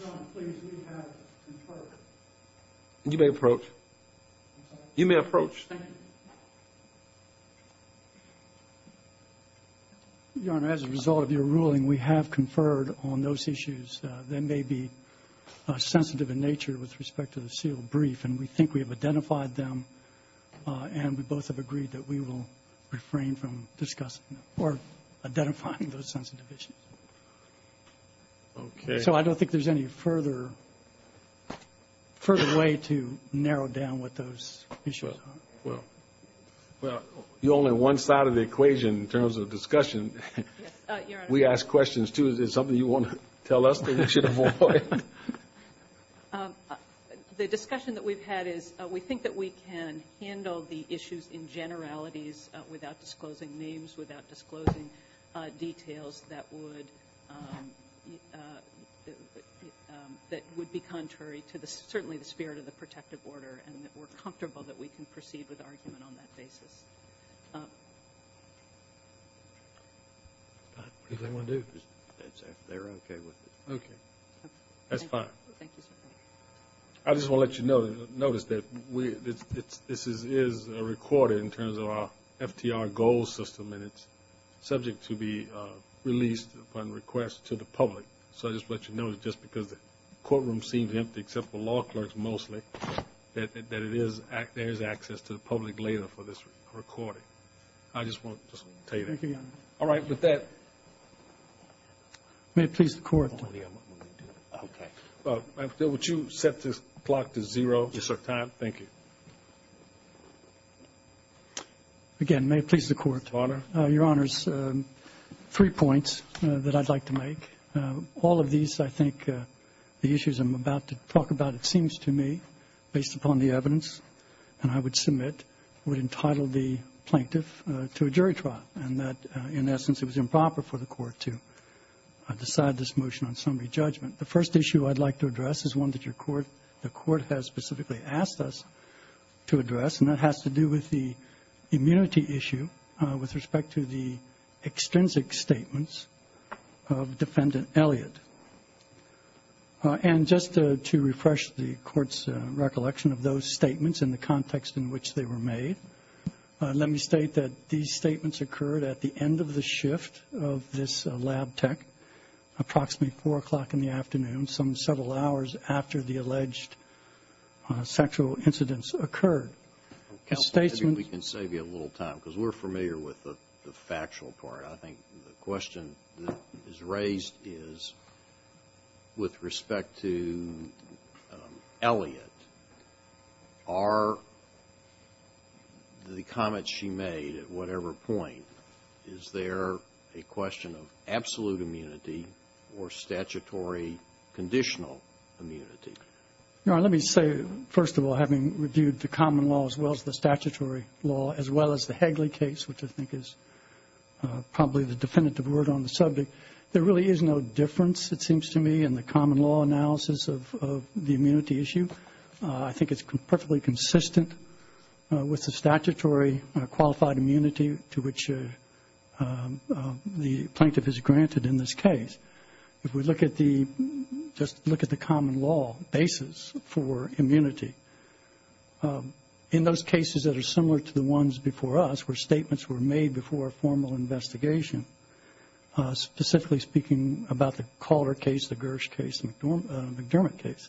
John, please, we have conferred. You may approach. You may approach. Thank you. Your Honor, as a result of your ruling, we have conferred on those issues that may be sensitive in nature with respect to the sealed brief, and we think we have identified them, and we both have agreed that we will refrain from discussing or identifying those sensitive issues. Okay. So I don't think there's any further way to narrow down what those issues are. Well, you're only one side of the equation in terms of discussion. Yes, Your Honor. We ask questions, too. Is there something you want to tell us that we should avoid? The discussion that we've had is we think that we can handle the issues in generalities without disclosing names, without disclosing details that would be contrary to certainly the spirit of the protective order and that we're comfortable that we can proceed with argument on that basis. What do you think they want to do? They're okay with it. That's fine. Thank you, sir. I just want to let you notice that this is a recording in terms of our FTR goal system, and it's subject to be released upon request to the public. So I just want you to know that just because the courtroom seems empty except for law clerks mostly, that there is access to the public later for this recording. I just want to tell you that. Thank you, Your Honor. All right, with that. May it please the Court. Okay. Would you set this clock to zero? Yes, sir. Thank you. Again, may it please the Court. Your Honor. Your Honor, three points that I'd like to make. All of these, I think, the issues I'm about to talk about, it seems to me, based upon the evidence, and I would submit would entitle the plaintiff to a jury trial and that, in essence, it was improper for the Court to decide this motion on summary judgment. The first issue I'd like to address is one that the Court has specifically asked us to address, and that has to do with the immunity issue with respect to the extrinsic statements of Defendant Elliott. And just to refresh the Court's recollection of those statements and the context in which they were made, let me state that these statements occurred at the end of the shift of this lab tech, approximately 4 o'clock in the afternoon, some several hours after the alleged sexual incidents occurred. Counsel, maybe we can save you a little time because we're familiar with the factual part. Your Honor, I think the question that is raised is with respect to Elliott, are the comments she made at whatever point, is there a question of absolute immunity or statutory conditional immunity? Your Honor, let me say, first of all, having reviewed the common law as well as the statutory law, as well as the Hagley case, which I think is probably the definitive word on the subject, there really is no difference, it seems to me, in the common law analysis of the immunity issue. I think it's perfectly consistent with the statutory qualified immunity to which the plaintiff is granted in this case. If we look at the, just look at the common law basis for immunity, in those cases that are similar to the ones before us where statements were made before a formal investigation, specifically speaking about the Calder case, the Gersh case, the McDermott case,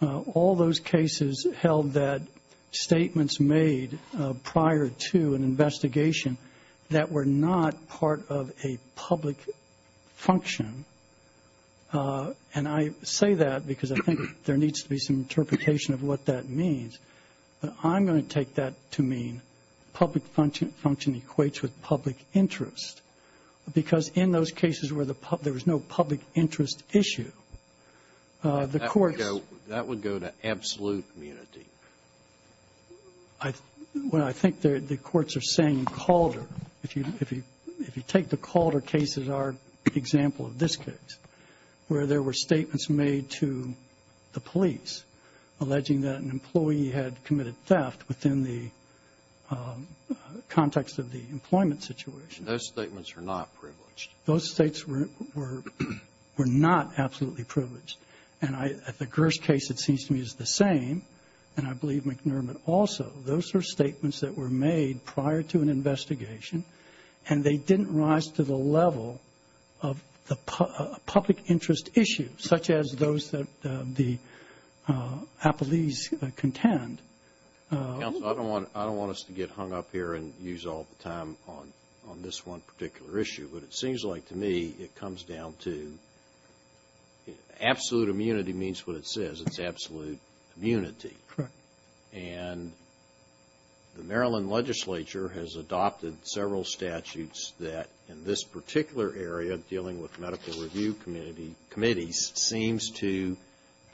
all those cases held that statements made prior to an investigation that were not part of a public function, and I say that because I think there needs to be some interpretation of what that means, but I'm going to take that to mean public function equates with public interest. Because in those cases where there was no public interest issue, the courts ---- That would go to absolute immunity. Well, I think the courts are saying Calder, if you take the Calder case as our example of this case, where there were statements made to the police alleging that an employee had committed theft within the context of the employment situation. Those statements were not privileged. Those statements were not absolutely privileged. And the Gersh case, it seems to me, is the same, and I believe McDermott also. Those were statements that were made prior to an investigation, and they didn't rise to the level of a public interest issue such as those that the police contend. Counsel, I don't want us to get hung up here and use all the time on this one particular issue, but it seems like to me it comes down to absolute immunity means what it says. It's absolute immunity. Correct. And the Maryland legislature has adopted several statutes that in this particular area, dealing with medical review committees, seems to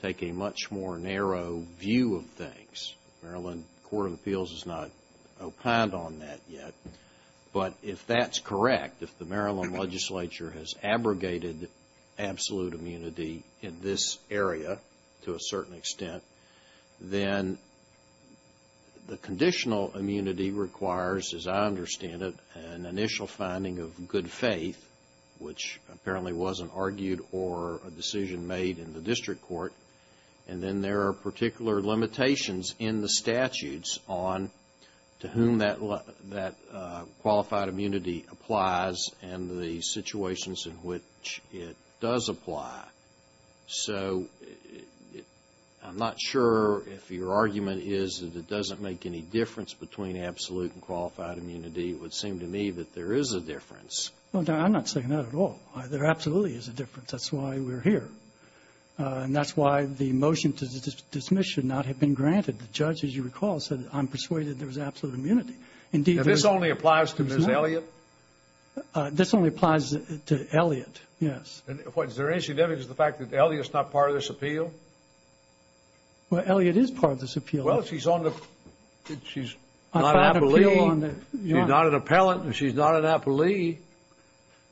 take a much more narrow view of things. Maryland Court of Appeals has not opined on that yet. But if that's correct, if the Maryland legislature has abrogated absolute immunity in this area to a certain extent, then the conditional immunity requires, as I understand it, an initial finding of good faith, which apparently wasn't argued or a decision made in the district court, and then there are particular limitations in the statutes on to whom that qualified immunity applies and the situations in which it does apply. So I'm not sure if your argument is that it doesn't make any difference between absolute and qualified immunity. It would seem to me that there is a difference. I'm not saying that at all. There absolutely is a difference. That's why we're here. And that's why the motion to dismiss should not have been granted. The judge, as you recall, said, I'm persuaded there's absolute immunity. If this only applies to Ms. Elliot? This only applies to Elliot, yes. Is there any significance to the fact that Elliot's not part of this appeal? Well, Elliot is part of this appeal. Well, she's not an appellant and she's not an appellee.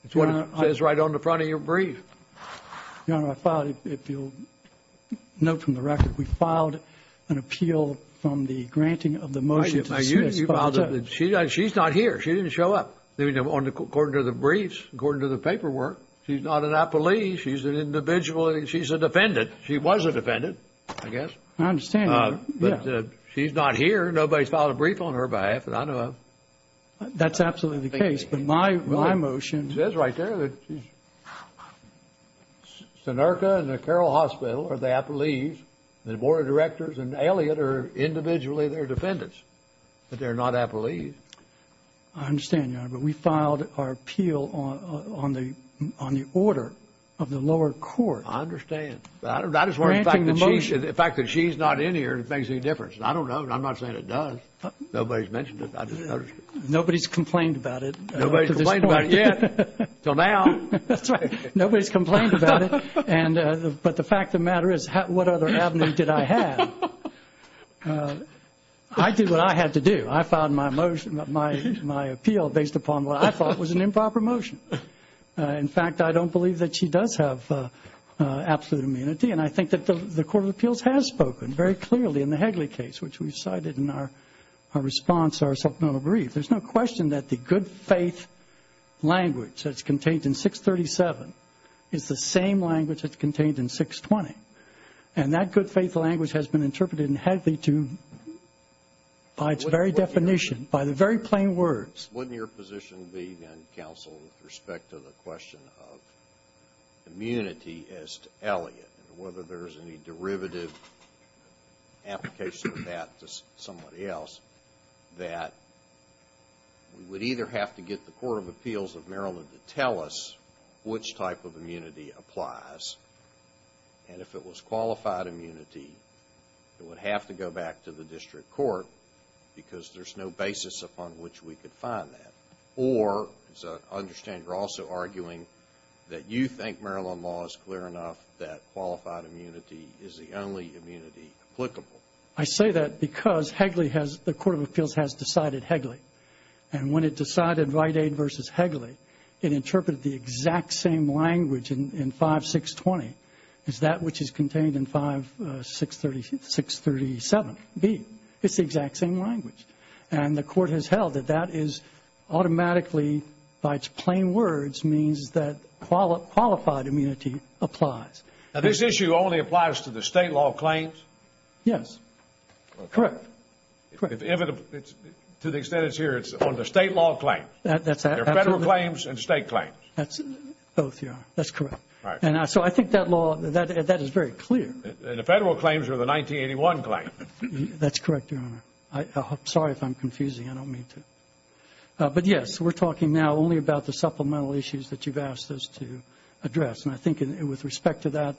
It's what it says right on the front of your brief. Your Honor, I filed it. If you'll note from the record, we filed an appeal from the granting of the motion to dismiss. She's not here. She didn't show up, according to the briefs, according to the paperwork. She's not an appellee. She's an individual. She's a defendant. She was a defendant, I guess. I understand. Nobody filed a brief on her behalf. That's absolutely the case. My motion. It says right there that Sinerka and the Carroll Hospital are the appellees. The board of directors and Elliot are individually their defendants. But they're not appellees. I understand, Your Honor, but we filed our appeal on the order of the lower court. I understand. I'm just worried about the fact that she's not in here. It makes no difference. I don't know. I'm not saying it does. Nobody's mentioned it. Nobody's complained about it. Nobody's complained about it yet, until now. That's right. Nobody's complained about it. But the fact of the matter is, what other avenue did I have? I did what I had to do. I filed my motion, my appeal, based upon what I thought was an improper motion. In fact, I don't believe that she does have absolute immunity. And I think that the Court of Appeals has spoken very clearly in the Hegley case, which we've cited in our response to our supplemental brief. There's no question that the good faith language that's contained in 637 is the same language that's contained in 620. And that good faith language has been interpreted in Hegley to, by its very definition, by the very plain words. Wouldn't your position be, then, counsel, with respect to the question of immunity as to Elliot, and whether there's any derivative application of that to somebody else, that we would either have to get the Court of Appeals of Maryland to tell us which type of immunity applies, and if it was qualified immunity, it would have to go back to the district court, because there's no basis upon which we could find that. Or, as I understand, you're also arguing that you think Maryland law is clear enough that qualified immunity is the only immunity applicable. I say that because Hegley has, the Court of Appeals has decided Hegley. And when it decided Rite Aid versus Hegley, it interpreted the exact same language in 5620 as that which is contained in 5637B. It's the exact same language. And the Court has held that that is automatically, by its plain words, means that qualified immunity applies. Now, this issue only applies to the state law claims? Yes. Correct. Correct. To the extent it's here, it's on the state law claims. That's right. There are federal claims and state claims. Both, Your Honor. That's correct. All right. And so I think that law, that is very clear. And the federal claims are the 1981 claim. That's correct, Your Honor. Sorry if I'm confusing. I don't mean to. But, yes, we're talking now only about the supplemental issues that you've asked us to address. And I think with respect to that,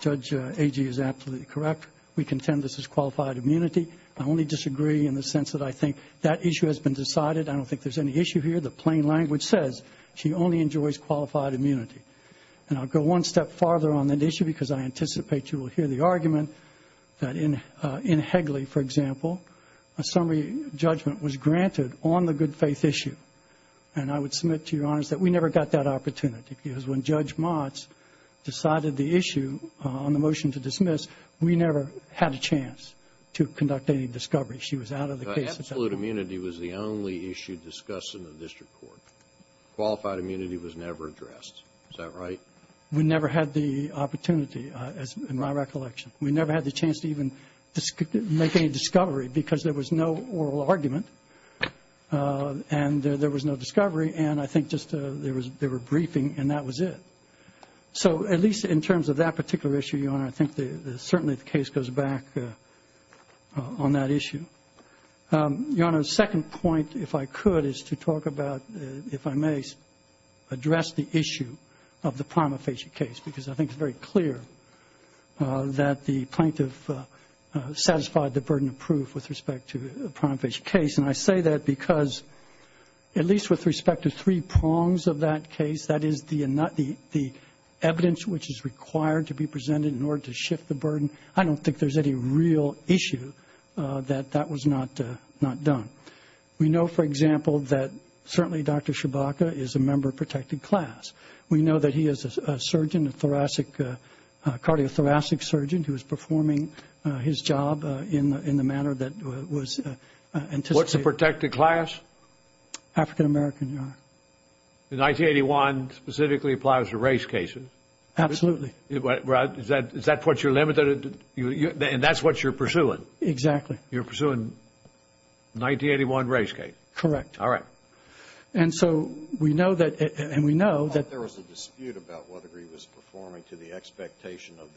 Judge Agee is absolutely correct. We contend this is qualified immunity. I only disagree in the sense that I think that issue has been decided. I don't think there's any issue here. The plain language says she only enjoys qualified immunity. And I'll go one step farther on that issue because I anticipate you will hear the argument that in Hegley, for example, a summary judgment was granted on the good-faith issue. And I would submit to Your Honors that we never got that opportunity because when Judge Motz decided the issue on the motion to dismiss, we never had a chance to conduct any discovery. She was out of the case at that point. Absolute immunity was the only issue discussed in the district court. Qualified immunity was never addressed. Is that right? We never had the opportunity, in my recollection. We never had the chance to even make any discovery because there was no oral argument and there was no discovery, and I think just they were briefing and that was it. So at least in terms of that particular issue, Your Honor, I think certainly the case goes back on that issue. Your Honor, the second point, if I could, is to talk about, if I may, address the issue of the prima facie case because I think it's very clear that the plaintiff satisfied the burden of proof with respect to the prima facie case. And I say that because at least with respect to three prongs of that case, that is, the evidence which is required to be presented in order to shift the burden, I don't think there's any real issue that that was not done. We know, for example, that certainly Dr. Shibaka is a member of protected class. We know that he is a surgeon, a thoracic, cardiothoracic surgeon who is performing his job in the manner that was anticipated. What's a protected class? African American, Your Honor. The 1981 specifically applies to race cases. Absolutely. Is that what you're limited to? And that's what you're pursuing? Exactly. You're pursuing the 1981 race case? Correct. All right. And so we know that, and we know that there was a dispute about whether he was performing to the expectation of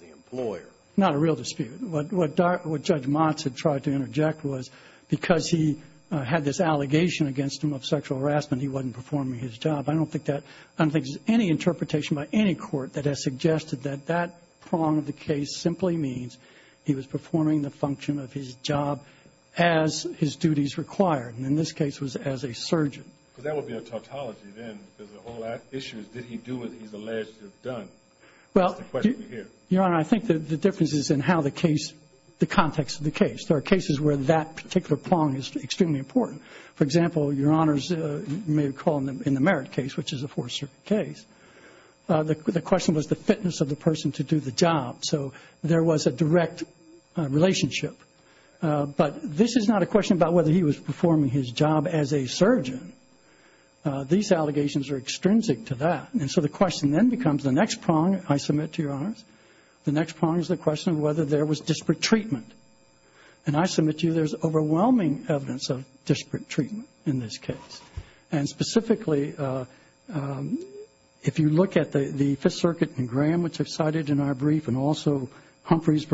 the employer. Not a real dispute. What Judge Motts had tried to interject was because he had this allegation against him of sexual harassment, he wasn't performing his job. I don't think there's any interpretation by any court that has suggested that that prong of the case simply means he was performing the function of his job as his duties required, and in this case was as a surgeon. But that would be a tautology then, because the whole issue is did he do what he's alleged to have done? Well, Your Honor, I think the difference is in how the case, the context of the case. There are cases where that particular prong is extremely important. For example, Your Honors may recall in the Merritt case, which is a Fourth Circuit case, the question was the fitness of the person to do the job. So there was a direct relationship. But this is not a question about whether he was performing his job as a surgeon. These allegations are extrinsic to that. And so the question then becomes the next prong, I submit to Your Honors, the next prong is the question of whether there was disparate treatment. And I submit to you there's overwhelming evidence of disparate treatment in this case. And specifically, if you look at the Fifth Circuit and Graham, which I've cited in our brief, and also the Humphreys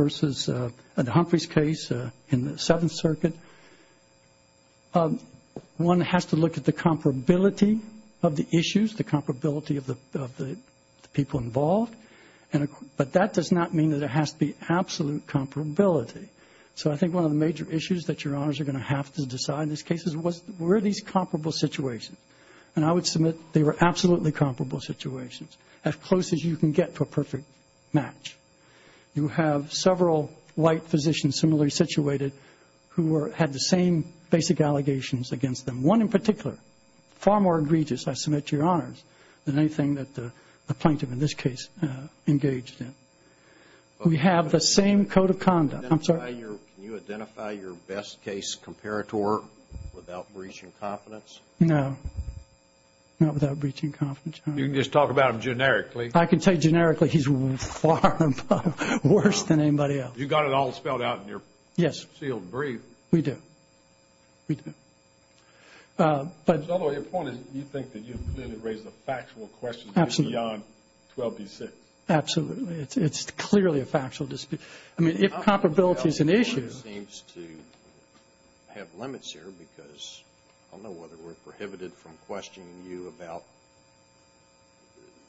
case in the Seventh Circuit, one has to look at the comparability of the issues, the comparability of the people involved. But that does not mean that there has to be absolute comparability. So I think one of the major issues that Your Honors are going to have to decide in this case is where are these comparable situations? And I would submit they were absolutely comparable situations, as close as you can get for a perfect match. You have several white physicians similarly situated who had the same basic allegations against them. One in particular, far more egregious, I submit to Your Honors, than anything that the plaintiff in this case engaged in. We have the same code of conduct. I'm sorry? Can you identify your best case comparator without breaching confidence? No. Not without breaching confidence. You can just talk about him generically. I can tell you generically he's far worse than anybody else. You've got it all spelled out in your sealed brief. We do. We do. Although your point is you think that you've clearly raised a factual question beyond 12B6. Absolutely. It's clearly a factual dispute. I mean, if comparability is an issue. It seems to have limits here, because I don't know whether we're prohibited from questioning you about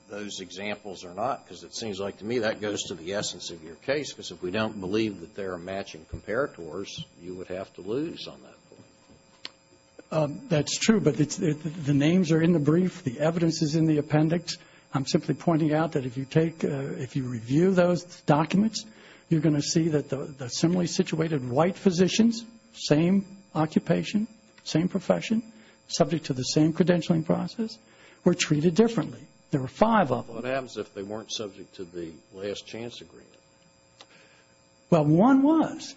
those examples or not, because it seems like to me that goes to the essence of your case, because if we don't believe that they're matching comparators, you would have to lose on that point. That's true, but the names are in the brief. The evidence is in the appendix. I'm simply pointing out that if you review those documents, you're going to see that the similarly situated white physicians, same occupation, same profession, subject to the same credentialing process, were treated differently. There were five of them. What happens if they weren't subject to the last chance agreement? Well, one was.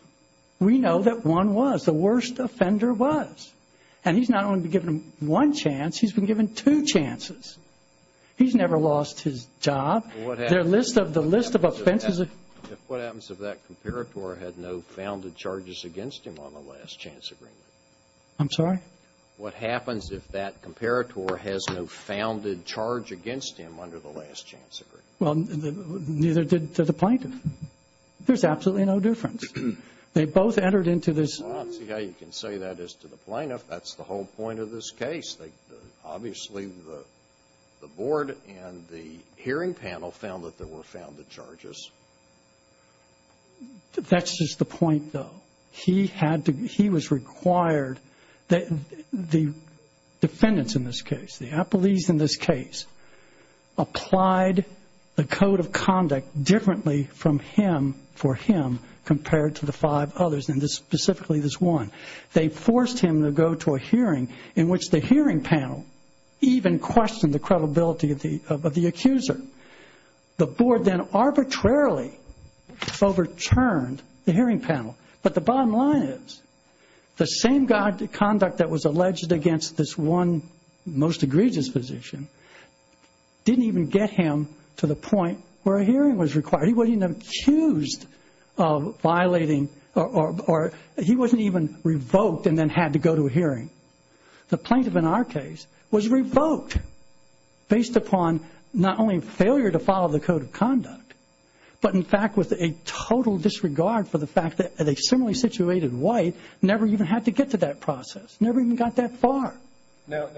We know that one was. The worst offender was. And he's not only been given one chance, he's been given two chances. He's never lost his job. Their list of the list of offenses. What happens if that comparator had no founded charges against him on the last chance agreement? I'm sorry? What happens if that comparator has no founded charge against him under the last chance agreement? Well, neither did the plaintiff. There's absolutely no difference. They both entered into this. Well, I don't see how you can say that as to the plaintiff. That's the whole point of this case. Obviously the board and the hearing panel found that there were founded charges. That's just the point, though. He was required, the defendants in this case, the appellees in this case, applied the code of conduct differently for him compared to the five others, and specifically this one. They forced him to go to a hearing in which the hearing panel even questioned the credibility of the accuser. The board then arbitrarily overturned the hearing panel. But the bottom line is the same conduct that was alleged against this one most egregious physician didn't even get him to the point where a hearing was required. He wasn't even accused of violating or he wasn't even revoked and then had to go to a hearing. The plaintiff in our case was revoked based upon not only failure to follow the code of conduct, but in fact with a total disregard for the fact that a similarly situated white never even had to get to that process, never even got that far. Now,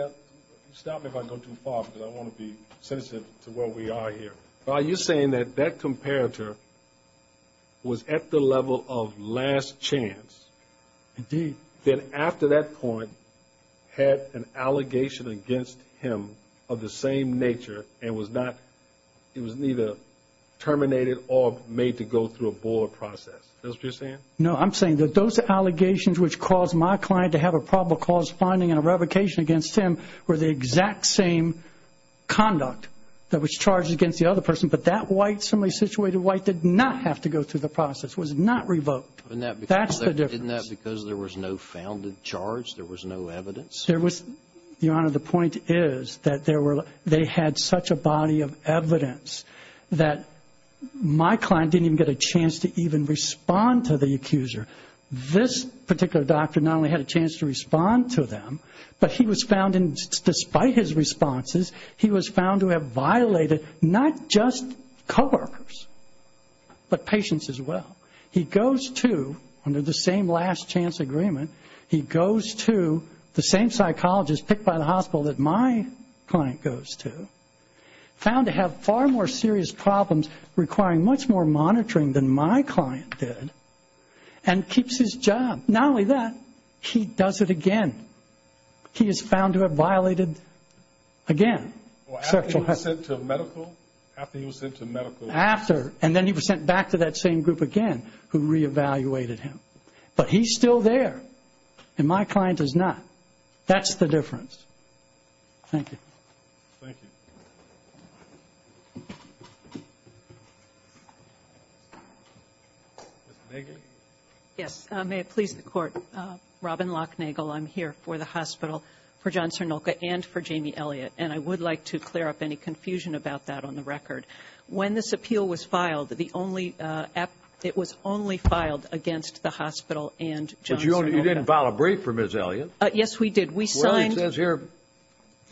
stop me if I go too far because I want to be sensitive to where we are here. Are you saying that that comparator was at the level of last chance? Indeed. Then after that point had an allegation against him of the same nature and was not, it was neither terminated or made to go through a board process. Is that what you're saying? No, I'm saying that those allegations which caused my client to have a probable cause finding and a revocation against him were the exact same conduct that was charged against the other person, but that white, similarly situated white did not have to go through the process, was not revoked. That's the difference. Isn't that because there was no founded charge? There was no evidence? There was, Your Honor, the point is that they had such a body of evidence that my client didn't even get a chance to even respond to the accuser. This particular doctor not only had a chance to respond to them, but he was found, despite his responses, he was found to have violated not just coworkers, but patients as well. He goes to, under the same last chance agreement, he goes to the same psychologist picked by the hospital that my client goes to, found to have far more serious problems requiring much more monitoring than my client did, and keeps his job. Not only that, he does it again. He is found to have violated, again, sexual harassment. After he was sent to medical? After, and then he was sent back to that same group again who re-evaluated him. But he's still there, and my client is not. That's the difference. Thank you. Thank you. Yes, may it please the Court. Robin Lochnagle, I'm here for the hospital, for John Cernulka, and for Jamie Elliott. And I would like to clear up any confusion about that on the record. When this appeal was filed, it was only filed against the hospital and John Cernulka. But you didn't file a brief for Ms. Elliott. Yes, we did. Well, it says here,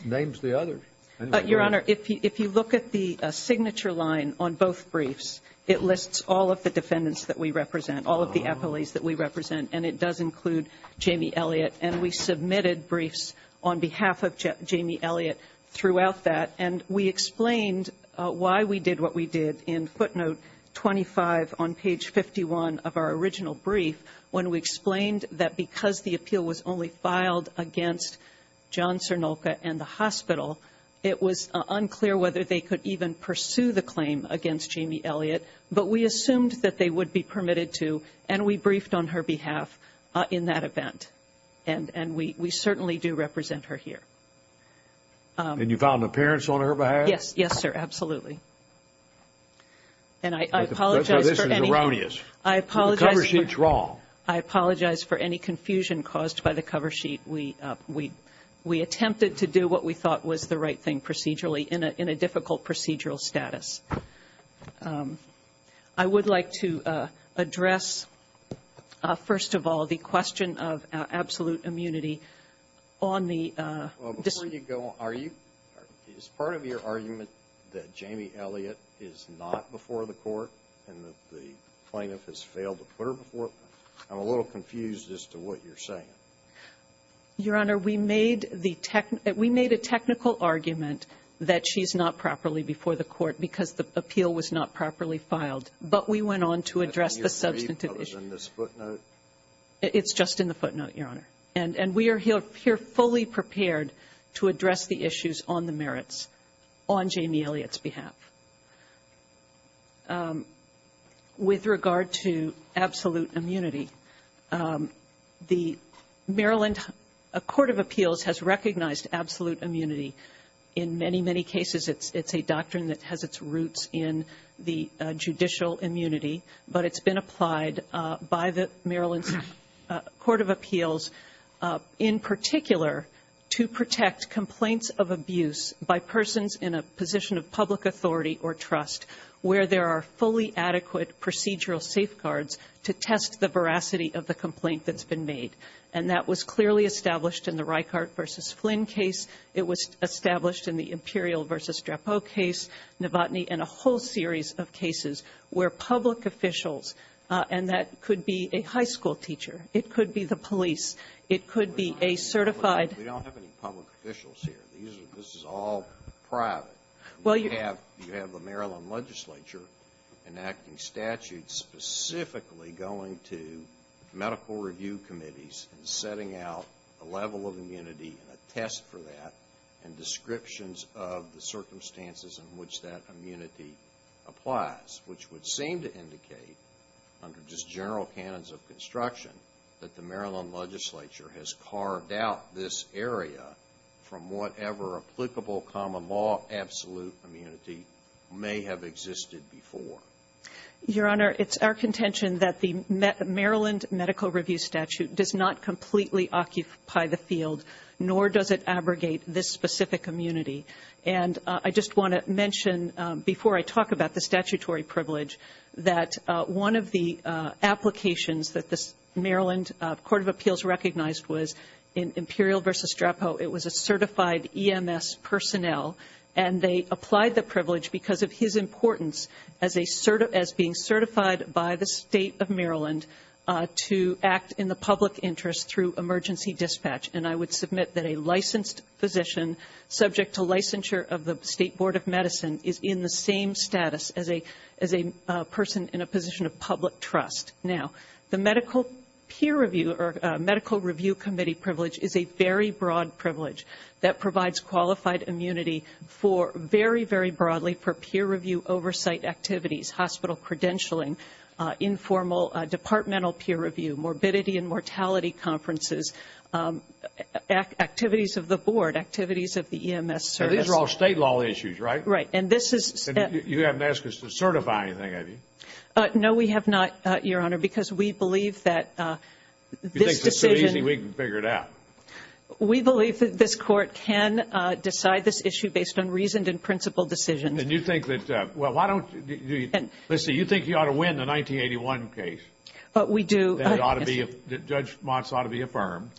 names the others. Your Honor, if you look at the signature line on both briefs, it lists all of the defendants that we represent, all of the appellees that we represent, and it does include Jamie Elliott. And we submitted briefs on behalf of Jamie Elliott throughout that. And we explained why we did what we did in footnote 25 on page 51 of our original brief when we explained that because the appeal was only filed against John Cernulka and the hospital, it was unclear whether they could even pursue the claim against Jamie Elliott. But we assumed that they would be permitted to, and we briefed on her behalf in that event. And we certainly do represent her here. And you filed an appearance on her behalf? Yes, sir, absolutely. And I apologize for any – This is erroneous. I apologize – The cover sheet's wrong. I apologize for any confusion caused by the cover sheet. We attempted to do what we thought was the right thing procedurally in a difficult procedural status. I would like to address, first of all, the question of absolute immunity on the – Well, before you go, are you – is part of your argument that Jamie Elliott is not before the court and that the plaintiff has failed to put her before? I'm a little confused as to what you're saying. Your Honor, we made the – we made a technical argument that she's not properly before the court because the appeal was not properly filed. But we went on to address the substantive issue. I think your brief was in this footnote. It's just in the footnote, Your Honor. And we are here fully prepared to address the issues on the merits on Jamie Elliott's behalf. With regard to absolute immunity, the Maryland Court of Appeals has recognized absolute immunity. In many, many cases, it's a doctrine that has its roots in the judicial immunity. But it's been applied by the Maryland Court of Appeals, in particular, to protect complaints of abuse by persons in a position of public authority or trust where there are fully adequate procedural safeguards to test the veracity of the complaint that's been made. And that was clearly established in the Reichart v. Flynn case. It was established in the Imperial v. Drapeau case, Novotny, and a whole series of cases where public officials – and that could be a high school teacher. It could be the police. It could be a certified – We don't have any public officials here. This is all private. You have the Maryland legislature enacting statutes specifically going to medical review committees and setting out a level of immunity and a test for that and descriptions of the circumstances in which that immunity applies, which would seem to indicate under just general canons of construction that the Maryland legislature has carved out this area from whatever applicable common law absolute immunity may have existed before. Your Honor, it's our contention that the Maryland medical review statute does not completely occupy the field, nor does it abrogate this specific immunity. And I just want to mention, before I talk about the statutory privilege, that one of the applications that the Maryland Court of Appeals recognized was in Imperial v. Drapeau. It was a certified EMS personnel, and they applied the privilege because of his importance as being certified by the State of Maryland to act in the public interest through emergency dispatch. And I would submit that a licensed physician, subject to licensure of the State Board of Medicine, is in the same status as a person in a position of public trust. Now, the medical peer review or medical review committee privilege is a very broad privilege that provides qualified immunity for, very, very broadly, for peer review oversight activities, hospital credentialing, informal departmental peer review, morbidity and mortality conferences, activities of the board, activities of the EMS service. These are all State law issues, right? Right. And this is... You haven't asked us to certify anything, have you? No, we have not, Your Honor, because we believe that this decision... You think it's so easy we can figure it out. We believe that this Court can decide this issue based on reasoned and principled decisions. And you think that, well, why don't you... Listen, you think you ought to win the 1981 case. We do. That Judge Mott's ought to be affirmed.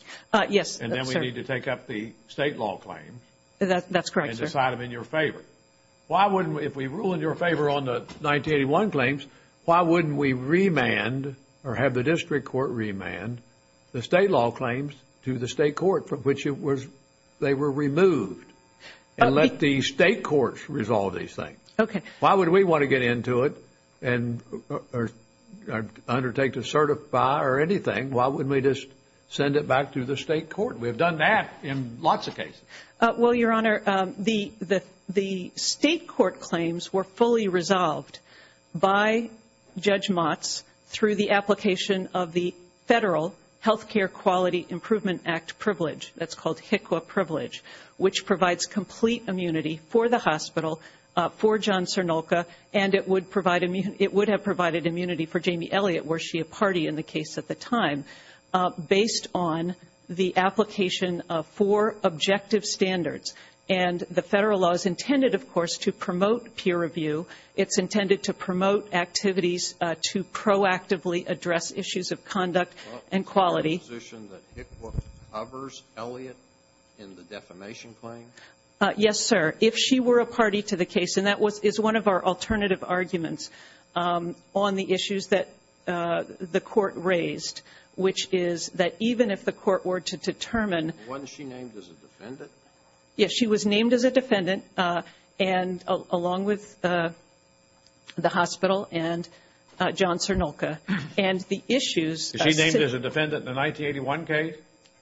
Yes, sir. And then we need to take up the State law claims. That's correct, sir. And decide them in your favor. Why wouldn't we... If we rule in your favor on the 1981 claims, why wouldn't we remand or have the District Court remand the State law claims to the State court from which they were removed and let the State courts resolve these things? Okay. Why would we want to get into it and undertake to certify or anything? Why wouldn't we just send it back to the State court? We have done that in lots of cases. Well, Your Honor, the State court claims were fully resolved by Judge Mott's through the application of the Federal Health Care Quality Improvement Act privilege. That's called HICWA privilege, which provides complete immunity for the hospital, for John Cernulca, and it would have provided immunity for Jamie Elliott, were she a party in the case at the time, based on the application of four objective standards. And the Federal law is intended, of course, to promote peer review. It's intended to promote activities to proactively address issues of conduct and quality. Well, is there a position that HICWA covers Elliott in the defamation claim? Yes, sir. If she were a party to the case, and that was one of our alternative arguments on the issues that the Court raised, which is that even if the Court were to determine Was she named as a defendant? Yes, she was named as a defendant, and along with the hospital and John Cernulca. And the issues Is she named as a defendant in the 1981 case?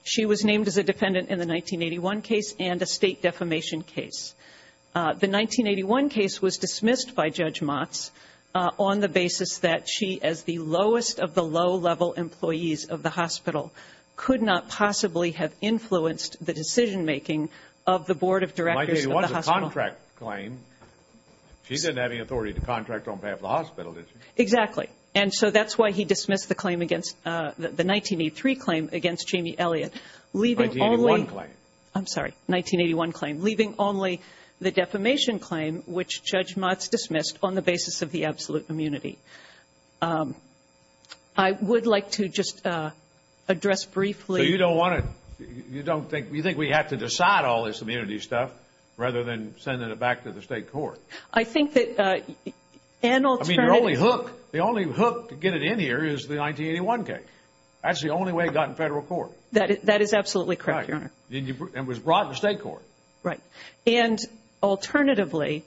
She was named as a defendant in the 1981 case and a State defamation case. The 1981 case was dismissed by Judge Motz on the basis that she, as the lowest of the low-level employees of the hospital, could not possibly have influenced the decision-making of the Board of Directors of the hospital. 1981 is a contract claim. She didn't have any authority to contract on behalf of the hospital, did she? Exactly. And so that's why he dismissed the claim against, the 1983 claim against Jamie Elliott, leaving only 1981 claim. Leaving only the defamation claim, which Judge Motz dismissed on the basis of the absolute immunity. I would like to just address briefly So you don't want to, you don't think, you think we have to decide all this immunity stuff rather than sending it back to the State Court? I think that an alternative I mean, your only hook, the only hook to get it in here is the 1981 case. That's the only way it got in Federal Court. That is absolutely correct, Your Honor. And was brought to the State Court. Right. And alternatively,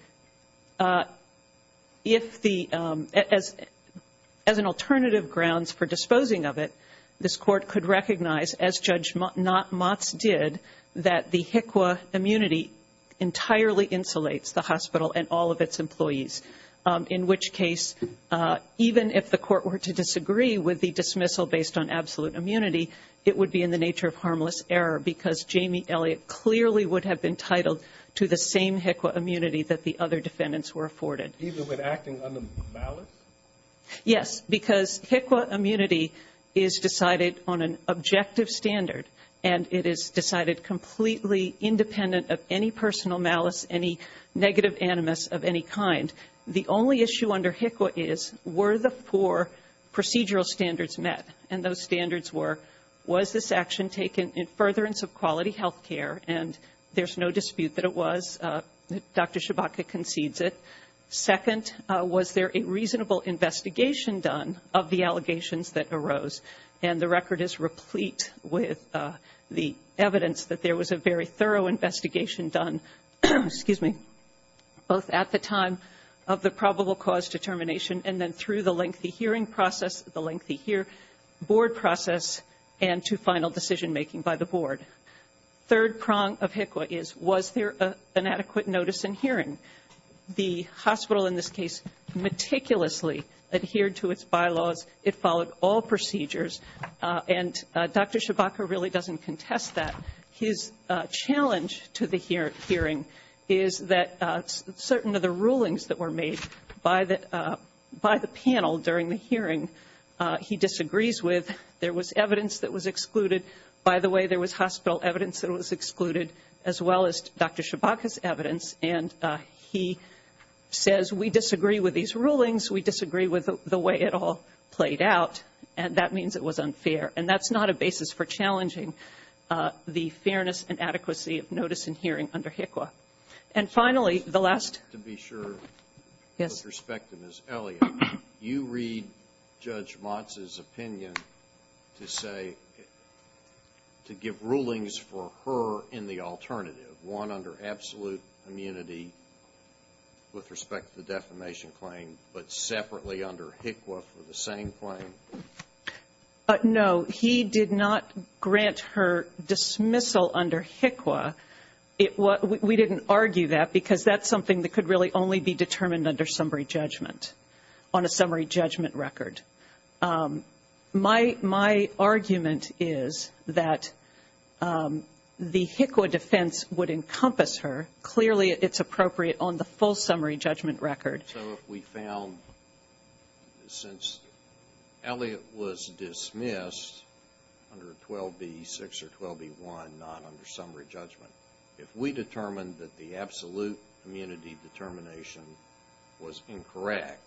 if the, as an alternative grounds for disposing of it, this Court could recognize, as Judge Motz did, that the HICWA immunity entirely insulates the hospital and all of its employees. In which case, even if the Court were to disagree with the dismissal based on absolute immunity, it would be in the nature of harmless error because Jamie Elliott clearly would have been titled to the same HICWA immunity that the other defendants were afforded. Even when acting under malice? Yes, because HICWA immunity is decided on an objective standard and it is decided completely independent of any personal malice, any negative animus of any kind. The only issue under HICWA is were the four procedural standards met and those standards were, was this action taken in furtherance of quality health care? And there's no dispute that it was. Dr. Schabotka concedes it. Second, was there a reasonable investigation done of the allegations that arose? And the record is replete with the evidence that there was a very thorough investigation done, excuse me, both at the time of the probable cause determination and then through the lengthy hearing process, the lengthy board process, and to final decision-making by the board. Third prong of HICWA is was there an adequate notice in hearing? The hospital in this case meticulously adhered to its bylaws. It followed all procedures. And Dr. Schabotka really doesn't contest that. His challenge to the hearing is that certain of the rulings that were made by the panel during the hearing he disagrees with. There was evidence that was excluded. By the way, there was hospital evidence that was excluded as well as Dr. Schabotka's evidence, and he says we disagree with these rulings, we disagree with the way it all played out, and that means it was unfair. And that's not a basis for challenging the fairness and adequacy of notice in hearing under HICWA. And finally, the last ---- To be sure. Yes. With respect to Ms. Elliott, you read Judge Motz's opinion to say to give rulings for her in the alternative, one under absolute immunity with respect to the defamation claim but separately under HICWA for the same claim? No. He did not grant her dismissal under HICWA. We didn't argue that because that's something that could really only be determined under summary judgment on a summary judgment record. My argument is that the HICWA defense would encompass her. Clearly, it's appropriate on the full summary judgment record. So if we found since Elliott was dismissed under 12b-6 or 12b-1, not under summary judgment, if we determined that the absolute immunity determination was incorrect,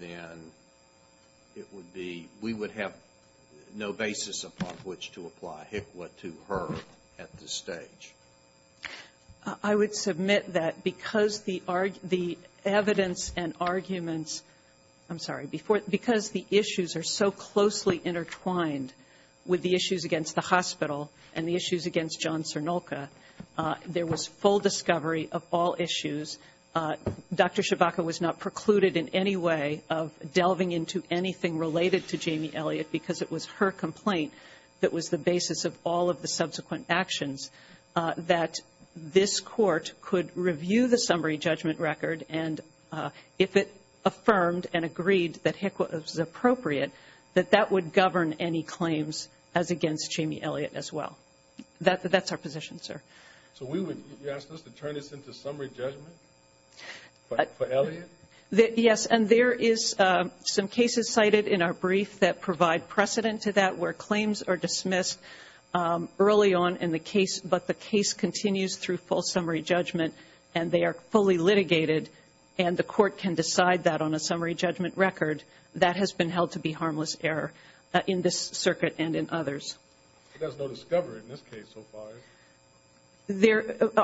then it would be we would have no basis upon which to apply HICWA to her at this stage. I would submit that because the evidence and arguments ---- I'm sorry. Because the issues are so closely intertwined with the issues against the hospital and the issues against John Cernulka, there was full discovery of all issues. Dr. Chewbacca was not precluded in any way of delving into anything related to Jamie Elliott because it was her complaint that was the basis of all of the subsequent actions, that this Court could review the summary judgment record, and if it affirmed and agreed that HICWA was appropriate, that that would govern any claims as against Jamie Elliott as well. That's our position, sir. So you're asking us to turn this into summary judgment for Elliott? Yes, and there is some cases cited in our brief that provide precedent to that where claims are dismissed early on in the case, but the case continues through full summary judgment and they are fully litigated and the Court can decide that on a summary judgment record. That has been held to be harmless error in this circuit and in others. There's no discovery in this case so far.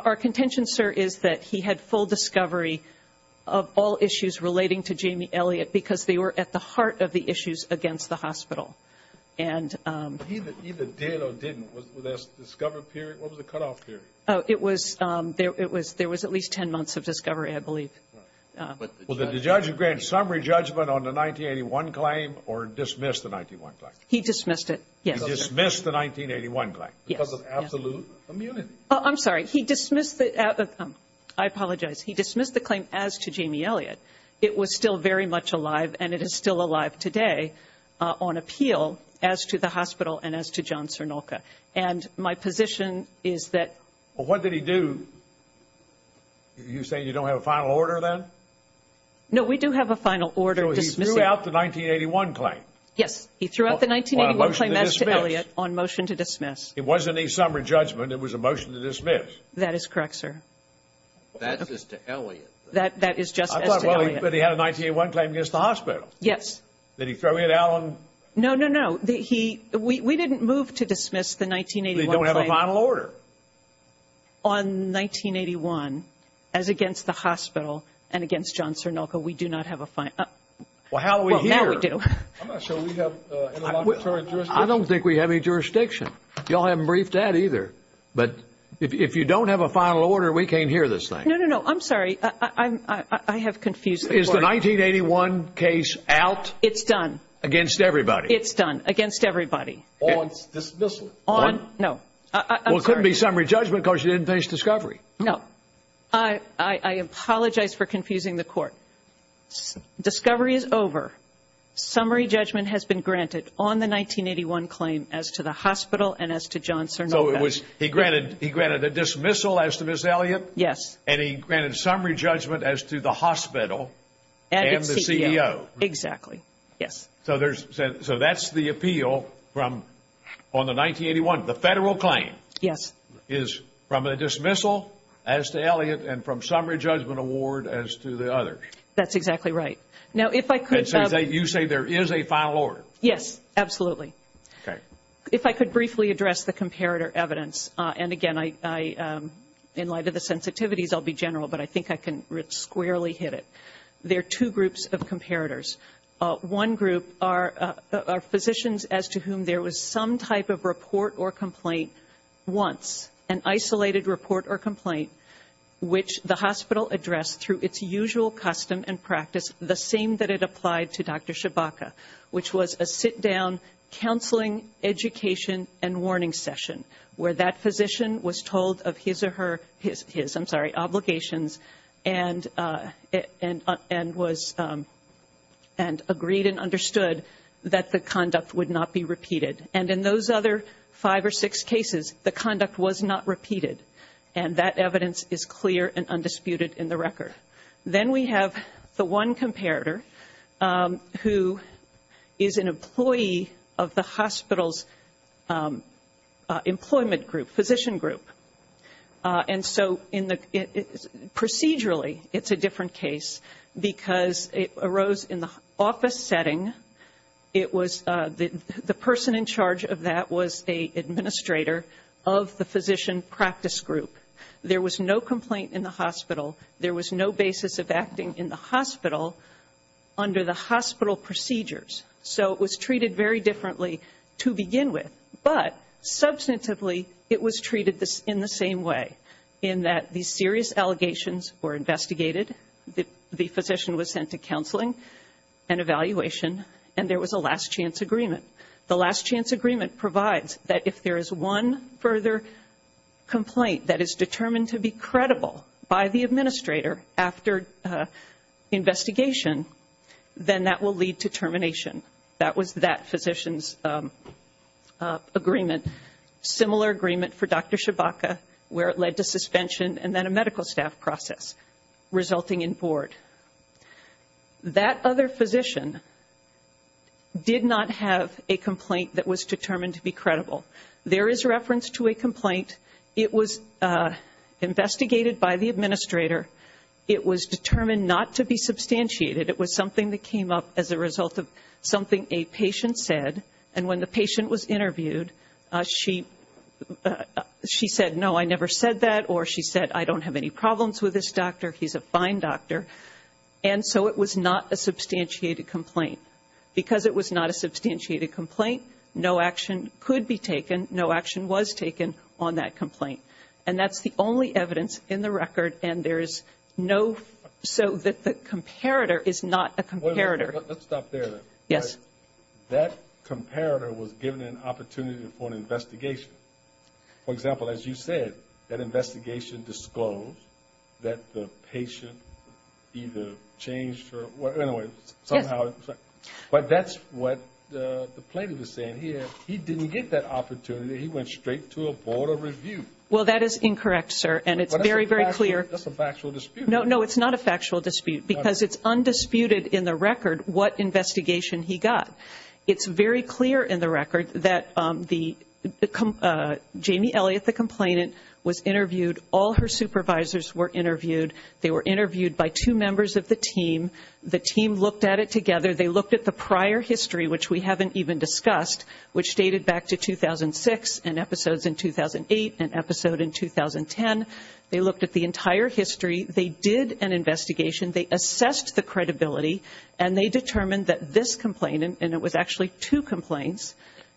Our contention, sir, is that he had full discovery of all issues relating to Jamie Elliott because they were at the heart of the issues against the hospital. He either did or didn't. Was there a discovery period? What was the cutoff period? There was at least 10 months of discovery, I believe. Was the judge granted summary judgment on the 1981 claim or dismissed the 1981 claim? He dismissed it, yes. He dismissed the 1981 claim? Yes. Because of absolute immunity. I'm sorry. He dismissed the – I apologize. He dismissed the claim as to Jamie Elliott. It was still very much alive and it is still alive today on appeal as to the hospital and as to John Cernulca. And my position is that – Well, what did he do? You say you don't have a final order then? No, we do have a final order dismissing – So he threw out the 1981 claim? Yes, he threw out the 1981 claim as to Elliott on motion to dismiss. It wasn't a summary judgment. It was a motion to dismiss. That is correct, sir. That's as to Elliott. That is just as to Elliott. I thought, well, he had a 1981 claim against the hospital. Yes. Did he throw it out on – No, no, no. He – we didn't move to dismiss the 1981 claim. They don't have a final order? On 1981 as against the hospital and against John Cernulca, we do not have a final – Well, how do we hear? Well, now we do. I'm not sure we have a long-term jurisdiction. You all haven't briefed that either. But if you don't have a final order, we can't hear this thing. No, no, no. I'm sorry. I have confused the court. Is the 1981 case out? It's done. Against everybody? It's done. Against everybody. On dismissal? On – no. I'm sorry. Well, it couldn't be summary judgment because you didn't finish discovery. No. I apologize for confusing the court. Discovery is over. Summary judgment has been granted on the 1981 claim as to the hospital and as to John Cernulca. So it was – he granted a dismissal as to Ms. Elliott? Yes. And he granted summary judgment as to the hospital and the CEO? And the CEO. Exactly. Yes. So there's – so that's the appeal from – on the 1981, the federal claim? Yes. Is from a dismissal as to Elliott and from summary judgment award as to the others? That's exactly right. Now, if I could – And so you say there is a final order? Yes. Absolutely. Okay. If I could briefly address the comparator evidence. And, again, I – in light of the sensitivities, I'll be general, but I think I can squarely hit it. There are two groups of comparators. One group are physicians as to whom there was some type of report or complaint once, an isolated report or complaint, which the hospital addressed through its usual custom and practice, the same that it applied to Dr. Shibaka, which was a sit-down counseling, education, and warning session, where that physician was told of his or her – his, I'm sorry, obligations, and was – and agreed and understood that the conduct would not be repeated. And in those other five or six cases, the conduct was not repeated. And that evidence is clear and undisputed in the record. Then we have the one comparator who is an employee of the hospital's employment group, physician group. And so in the – procedurally, it's a different case because it arose in the office setting. It was – the person in charge of that was an administrator of the physician practice group. There was no complaint in the hospital. There was no basis of acting in the hospital under the hospital procedures. So it was treated very differently to begin with. But, substantively, it was treated in the same way, in that these serious allegations were investigated. The physician was sent to counseling and evaluation, and there was a last-chance agreement. The last-chance agreement provides that if there is one further complaint that is determined to be credible by the administrator after investigation, then that will lead to termination. That was that physician's agreement. Similar agreement for Dr. Shibaka, where it led to suspension and then a medical staff process, resulting in board. That other physician did not have a complaint that was determined to be credible. There is reference to a complaint. It was investigated by the administrator. It was determined not to be substantiated. It was something that came up as a result of something a patient said. And when the patient was interviewed, she said, no, I never said that, or she said, I don't have any problems with this doctor, he's a fine doctor. And so it was not a substantiated complaint. Because it was not a substantiated complaint, no action could be taken, no action was taken on that complaint. And that's the only evidence in the record, and there is no so that the comparator is not a comparator. Let's stop there. Yes. That comparator was given an opportunity for an investigation. For example, as you said, that investigation disclosed that the patient either changed or, well, anyway, somehow. But that's what the plaintiff is saying here. He didn't get that opportunity. He went straight to a board of review. Well, that is incorrect, sir, and it's very, very clear. That's a factual dispute. No, no, it's not a factual dispute, because it's undisputed in the record what investigation he got. It's very clear in the record that Jamie Elliott, the complainant, was interviewed. All her supervisors were interviewed. They were interviewed by two members of the team. The team looked at it together. They looked at the prior history, which we haven't even discussed, which dated back to 2006 and episodes in 2008 and episode in 2010. They looked at the entire history. They did an investigation. They assessed the credibility, and they determined that this complainant, and it was actually two complaints,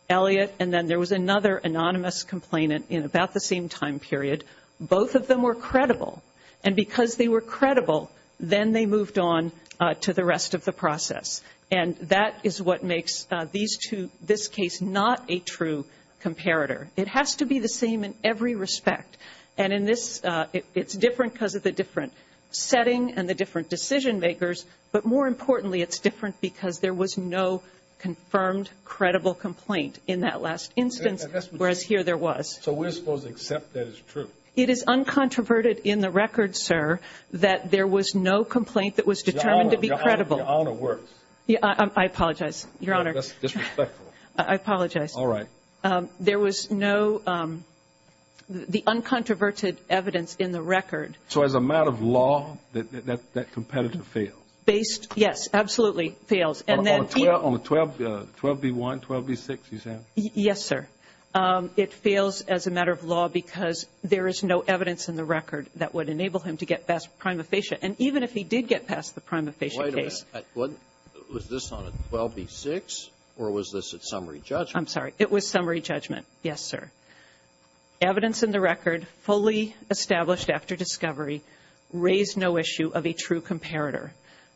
Elliott, and then there was another anonymous complainant in about the same time period, both of them were credible. And because they were credible, then they moved on to the rest of the process. And that is what makes these two, this case, not a true comparator. It has to be the same in every respect. And in this, it's different because of the different setting and the different decision makers, but more importantly it's different because there was no confirmed credible complaint in that last instance, whereas here there was. So we're supposed to accept that it's true? It is uncontroverted in the record, sir, that there was no complaint that was determined to be credible. Your Honor works. I apologize, Your Honor. That's disrespectful. I apologize. All right. There was no, the uncontroverted evidence in the record. So as a matter of law, that competitor fails? Based, yes, absolutely, fails. On the 12B1, 12B6, you said? Yes, sir. It fails as a matter of law because there is no evidence in the record that would enable him to get past prima facie. And even if he did get past the prima facie case. Wait a minute. Was this on a 12B6, or was this a summary judgment? I'm sorry. It was summary judgment. Yes, sir. Evidence in the record fully established after discovery raised no issue of a true comparator.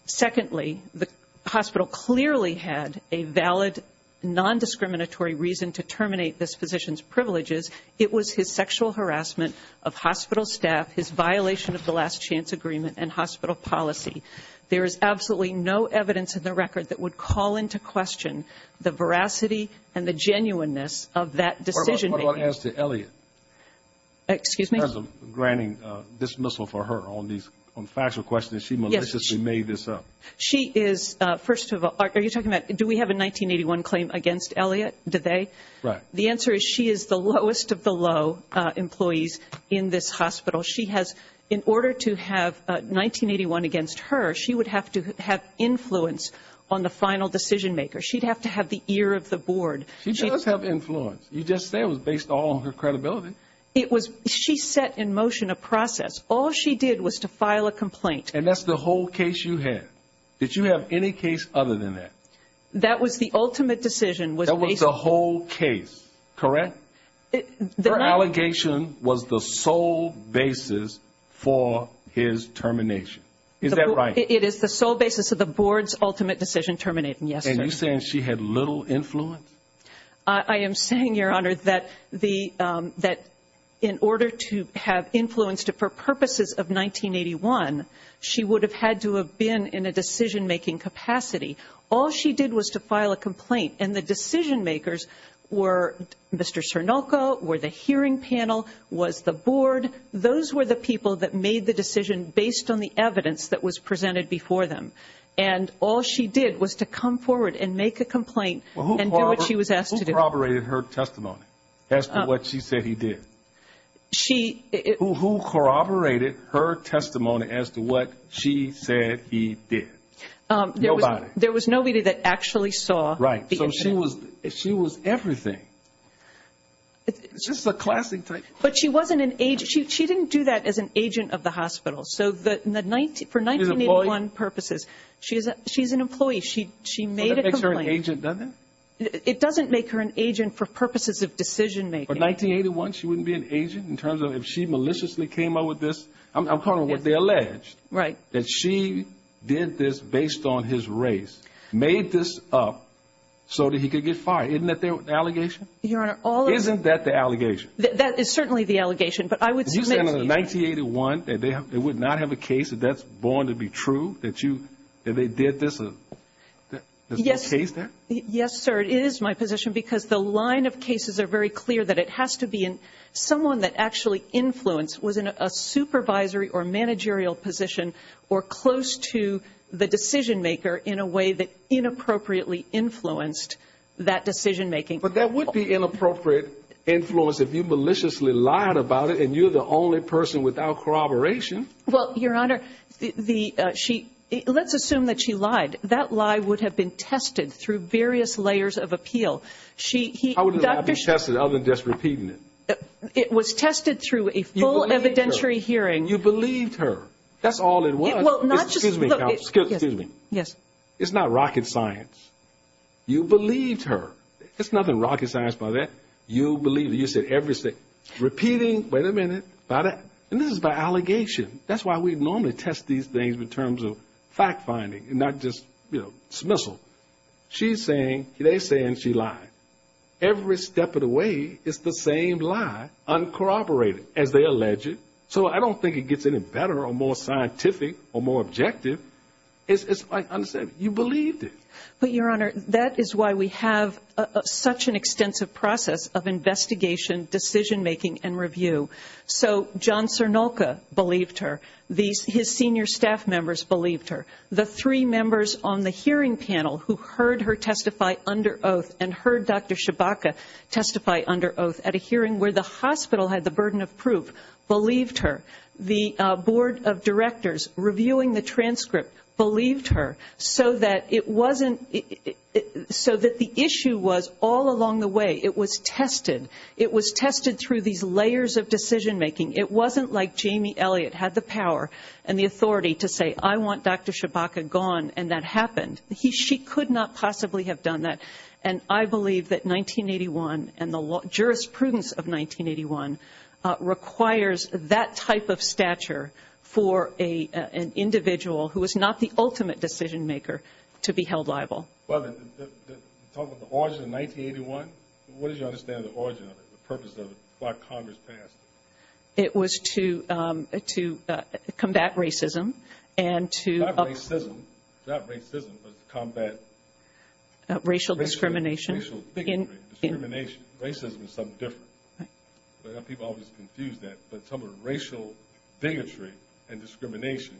Secondly, the hospital clearly had a valid nondiscriminatory reason to terminate this physician's privileges. It was his sexual harassment of hospital staff, his violation of the last chance agreement and hospital policy. There is absolutely no evidence in the record that would call into question the veracity and the genuineness of that decision-making. What about as to Elliot? Excuse me? In terms of granting dismissal for her on these factual questions, she maliciously made this up. She is, first of all, are you talking about, do we have a 1981 claim against Elliot, do they? Right. The answer is she is the lowest of the low employees in this hospital. In order to have 1981 against her, she would have to have influence on the final decision-maker. She'd have to have the ear of the board. She does have influence. You just said it was based all on her credibility. She set in motion a process. All she did was to file a complaint. And that's the whole case you had. Did you have any case other than that? That was the ultimate decision. That was the whole case, correct? Her allegation was the sole basis for his termination. Is that right? It is the sole basis of the board's ultimate decision terminating, yes, sir. And you're saying she had little influence? I am saying, Your Honor, that in order to have influence for purposes of 1981, she would have had to have been in a decision-making capacity. All she did was to file a complaint. And the decision-makers were Mr. Cernulco, were the hearing panel, was the board. Those were the people that made the decision based on the evidence that was presented before them. And all she did was to come forward and make a complaint and do what she was asked to do. Who corroborated her testimony as to what she said he did? Who corroborated her testimony as to what she said he did? Nobody. There was nobody that actually saw the incident. Right. So she was everything. Just the classic type. But she wasn't an agent. She didn't do that as an agent of the hospital. So for 1981 purposes, she's an employee. She made a complaint. Would that make her an agent, doesn't it? It doesn't make her an agent for purposes of decision-making. For 1981, she wouldn't be an agent in terms of if she maliciously came up with this? I'm calling what they alleged. Right. That she did this based on his race, made this up so that he could get fired. Isn't that the allegation? Your Honor, all of the- Isn't that the allegation? That is certainly the allegation. But I would submit to you- You said in 1981 that they would not have a case, that that's born to be true, that they did this? Yes. There's no case there? Yes, sir. It is my position because the line of cases are very clear that it has to be someone that actually influenced, was in a supervisory or managerial position or close to the decision-maker in a way that inappropriately influenced that decision-making. But that would be inappropriate influence if you maliciously lied about it and you're the only person without corroboration. Well, Your Honor, let's assume that she lied. That lie would have been tested through various layers of appeal. How would it not have been tested other than just repeating it? It was tested through a full evidentiary hearing. You believed her. That's all it was. Well, not just- Excuse me, counsel. Excuse me. Yes. It's not rocket science. You believed her. It's nothing rocket science by that. You believed her. You said every- repeating, wait a minute, about it. And this is by allegation. That's why we normally test these things in terms of fact-finding and not just, you know, dismissal. She's saying, they're saying she lied. Every step of the way, it's the same lie, uncorroborated, as they allege it. So I don't think it gets any better or more scientific or more objective. It's like I said, you believed it. But, Your Honor, that is why we have such an extensive process of investigation, decision-making, and review. So John Cernulca believed her. His senior staff members believed her. The three members on the hearing panel who heard her testify under oath and heard Dr. Shabaka testify under oath at a hearing where the hospital had the burden of proof believed her. The board of directors reviewing the transcript believed her so that it wasn't- so that the issue was all along the way, it was tested. It was tested through these layers of decision-making. It wasn't like Jamie Elliott had the power and the authority to say, I want Dr. Shabaka gone, and that happened. She could not possibly have done that. And I believe that 1981 and the jurisprudence of 1981 requires that type of stature for an individual who is not the ultimate decision-maker to be held liable. Well, talking about the origin of 1981, what did you understand the origin of it, the purpose of it, why Congress passed it? It was to combat racism and to- Not racism, not racism, but to combat- Racial discrimination. Racial bigotry, discrimination. Racism is something different. People always confuse that. But some of the racial bigotry and discrimination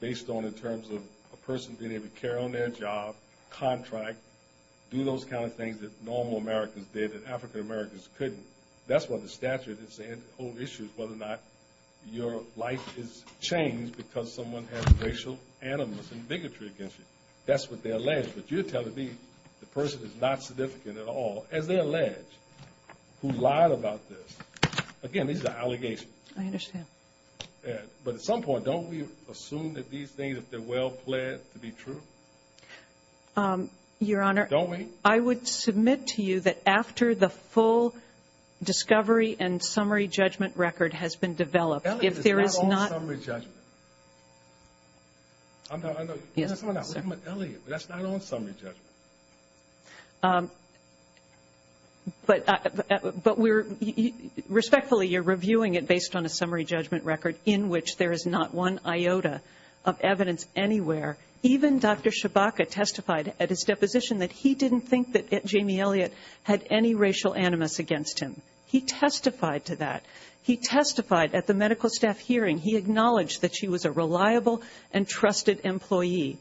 based on in terms of a person being able to carry on their job, contract, do those kind of things that normal Americans did and African Americans couldn't. That's what the statute is saying. The whole issue is whether or not your life is changed because someone has racial animus and bigotry against you. That's what they allege. But you're telling me the person is not significant at all, as they allege, who lied about this. Again, this is an allegation. I understand. But at some point, don't we assume that these things, if they're well-planned, to be true? Your Honor- Don't we? I would submit to you that after the full discovery and summary judgment record has been developed, if there is not- Elliot is not on summary judgment. I'm not- Yes, sir. Elliot, that's not on summary judgment. But we're- Respectfully, you're reviewing it based on a summary judgment record in which there is not one iota of evidence anywhere. Even Dr. Shabaka testified at his deposition that he didn't think that Jamie Elliot had any racial animus against him. He testified to that. He testified at the medical staff hearing. He acknowledged that she was a reliable and trusted employee.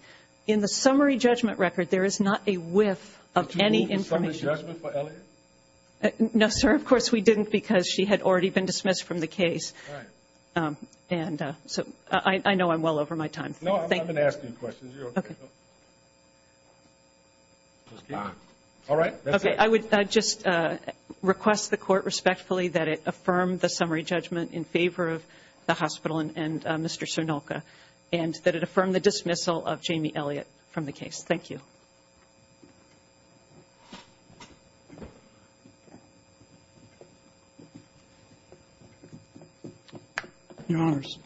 In the summary judgment record, there is not a whiff of any information. Did you move the summary judgment for Elliot? No, sir. Of course we didn't because she had already been dismissed from the case. All right. And so I know I'm well over my time. No, I'm not going to ask any questions. You're okay. Okay. All right. That's it. Okay. I would just request the Court respectfully that it affirm the summary judgment in favor of the hospital and Mr. Sernolke and that it affirm the dismissal of Jamie Elliot from the case. Thank you. Your Honors,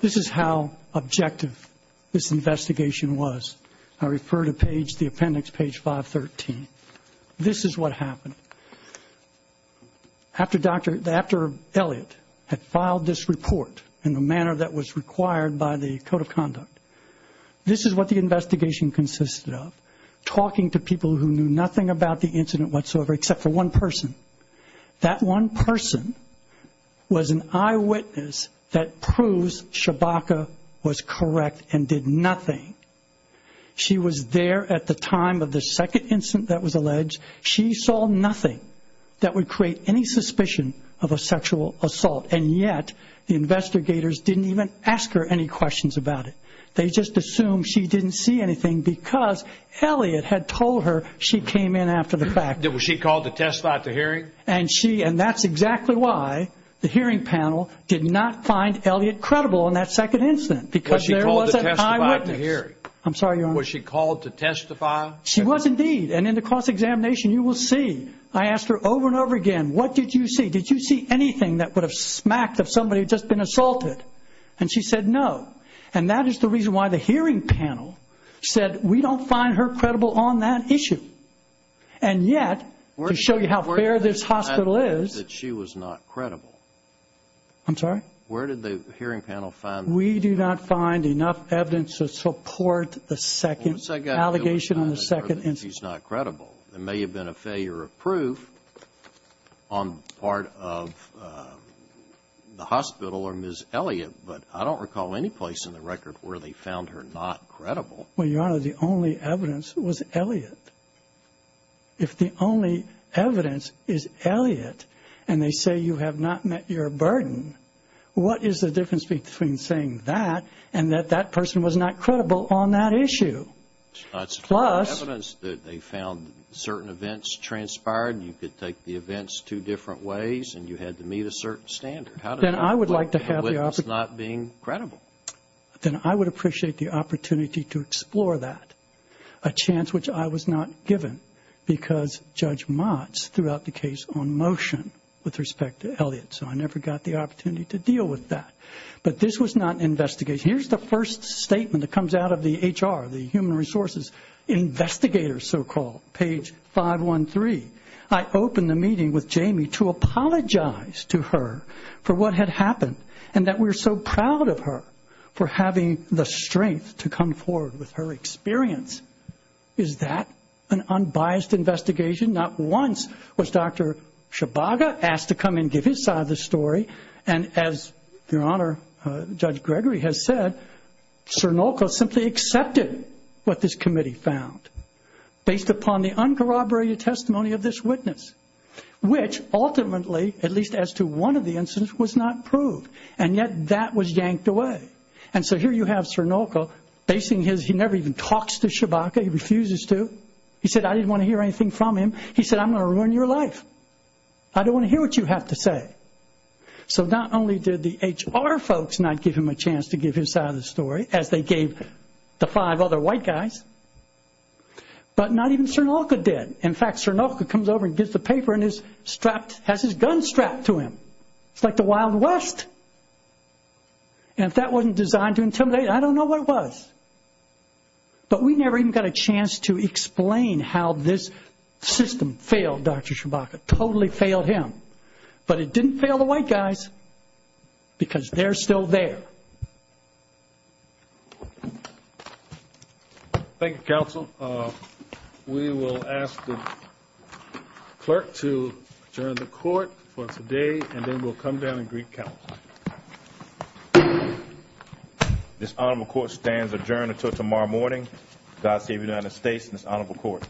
this is how objective this investigation was. I refer to the appendix, page 513. This is what happened. After Elliot had filed this report in the manner that was required by the Code of Conduct, this is what the investigation consisted of, talking to people who knew nothing about the incident whatsoever except for one person. That one person was an eyewitness that proves Shabaka was correct and did nothing. She was there at the time of the second incident that was alleged. She saw nothing that would create any suspicion of a sexual assault. And yet the investigators didn't even ask her any questions about it. They just assumed she didn't see anything because Elliot had told her she came in after the fact. Was she called to testify at the hearing? And that's exactly why the hearing panel did not find Elliot credible in that second incident because there was an eyewitness. Was she called to testify at the hearing? I'm sorry, Your Honor. Was she called to testify? She was indeed. And in the cross-examination you will see I asked her over and over again, what did you see? Did you see anything that would have smacked if somebody had just been assaulted? And she said no. And that is the reason why the hearing panel said we don't find her credible on that issue. And yet, to show you how fair this hospital is. Where did the hearing panel find that she was not credible? I'm sorry? Where did the hearing panel find that? We do not find enough evidence to support the second allegation on the second incident. She was not credible. There may have been a failure of proof on part of the hospital or Ms. Elliot, but I don't recall any place in the record where they found her not credible. Well, Your Honor, the only evidence was Elliot. If the only evidence is Elliot and they say you have not met your burden, what is the difference between saying that and that that person was not credible on that issue? It's not sufficient evidence that they found certain events transpired and you could take the events two different ways and you had to meet a certain standard. Then I would like to have the opportunity. How did they find the witness not being credible? Then I would appreciate the opportunity to explore that, a chance which I was not given because Judge Motz threw out the case on motion with respect to Elliot, so I never got the opportunity to deal with that. But this was not an investigation. Here's the first statement that comes out of the HR, the Human Resources Investigator, so-called, page 513. I opened the meeting with Jamie to apologize to her for what had happened and that we're so proud of her for having the strength to come forward with her experience. Is that an unbiased investigation? Not once was Dr. Shibaga asked to come and give his side of the story, and as Your Honor, Judge Gregory has said, Sernolco simply accepted what this committee found based upon the uncorroborated testimony of this witness, which ultimately, at least as to one of the incidents, was not proved, and yet that was yanked away. And so here you have Sernolco basing his, he never even talks to Shibaga, he refuses to. He said, I didn't want to hear anything from him. He said, I'm going to ruin your life. I don't want to hear what you have to say. So not only did the HR folks not give him a chance to give his side of the story, as they gave the five other white guys, but not even Sernolco did. In fact, Sernolco comes over and gives the paper and has his gun strapped to him. It's like the Wild West. And if that wasn't designed to intimidate, I don't know what was. But we never even got a chance to explain how this system failed Dr. Shibaga. Totally failed him. But it didn't fail the white guys because they're still there. Thank you, counsel. We will ask the clerk to adjourn the court for today, and then we'll come down and greet counsel. This honorable court stands adjourned until tomorrow morning. God save the United States and this honorable court.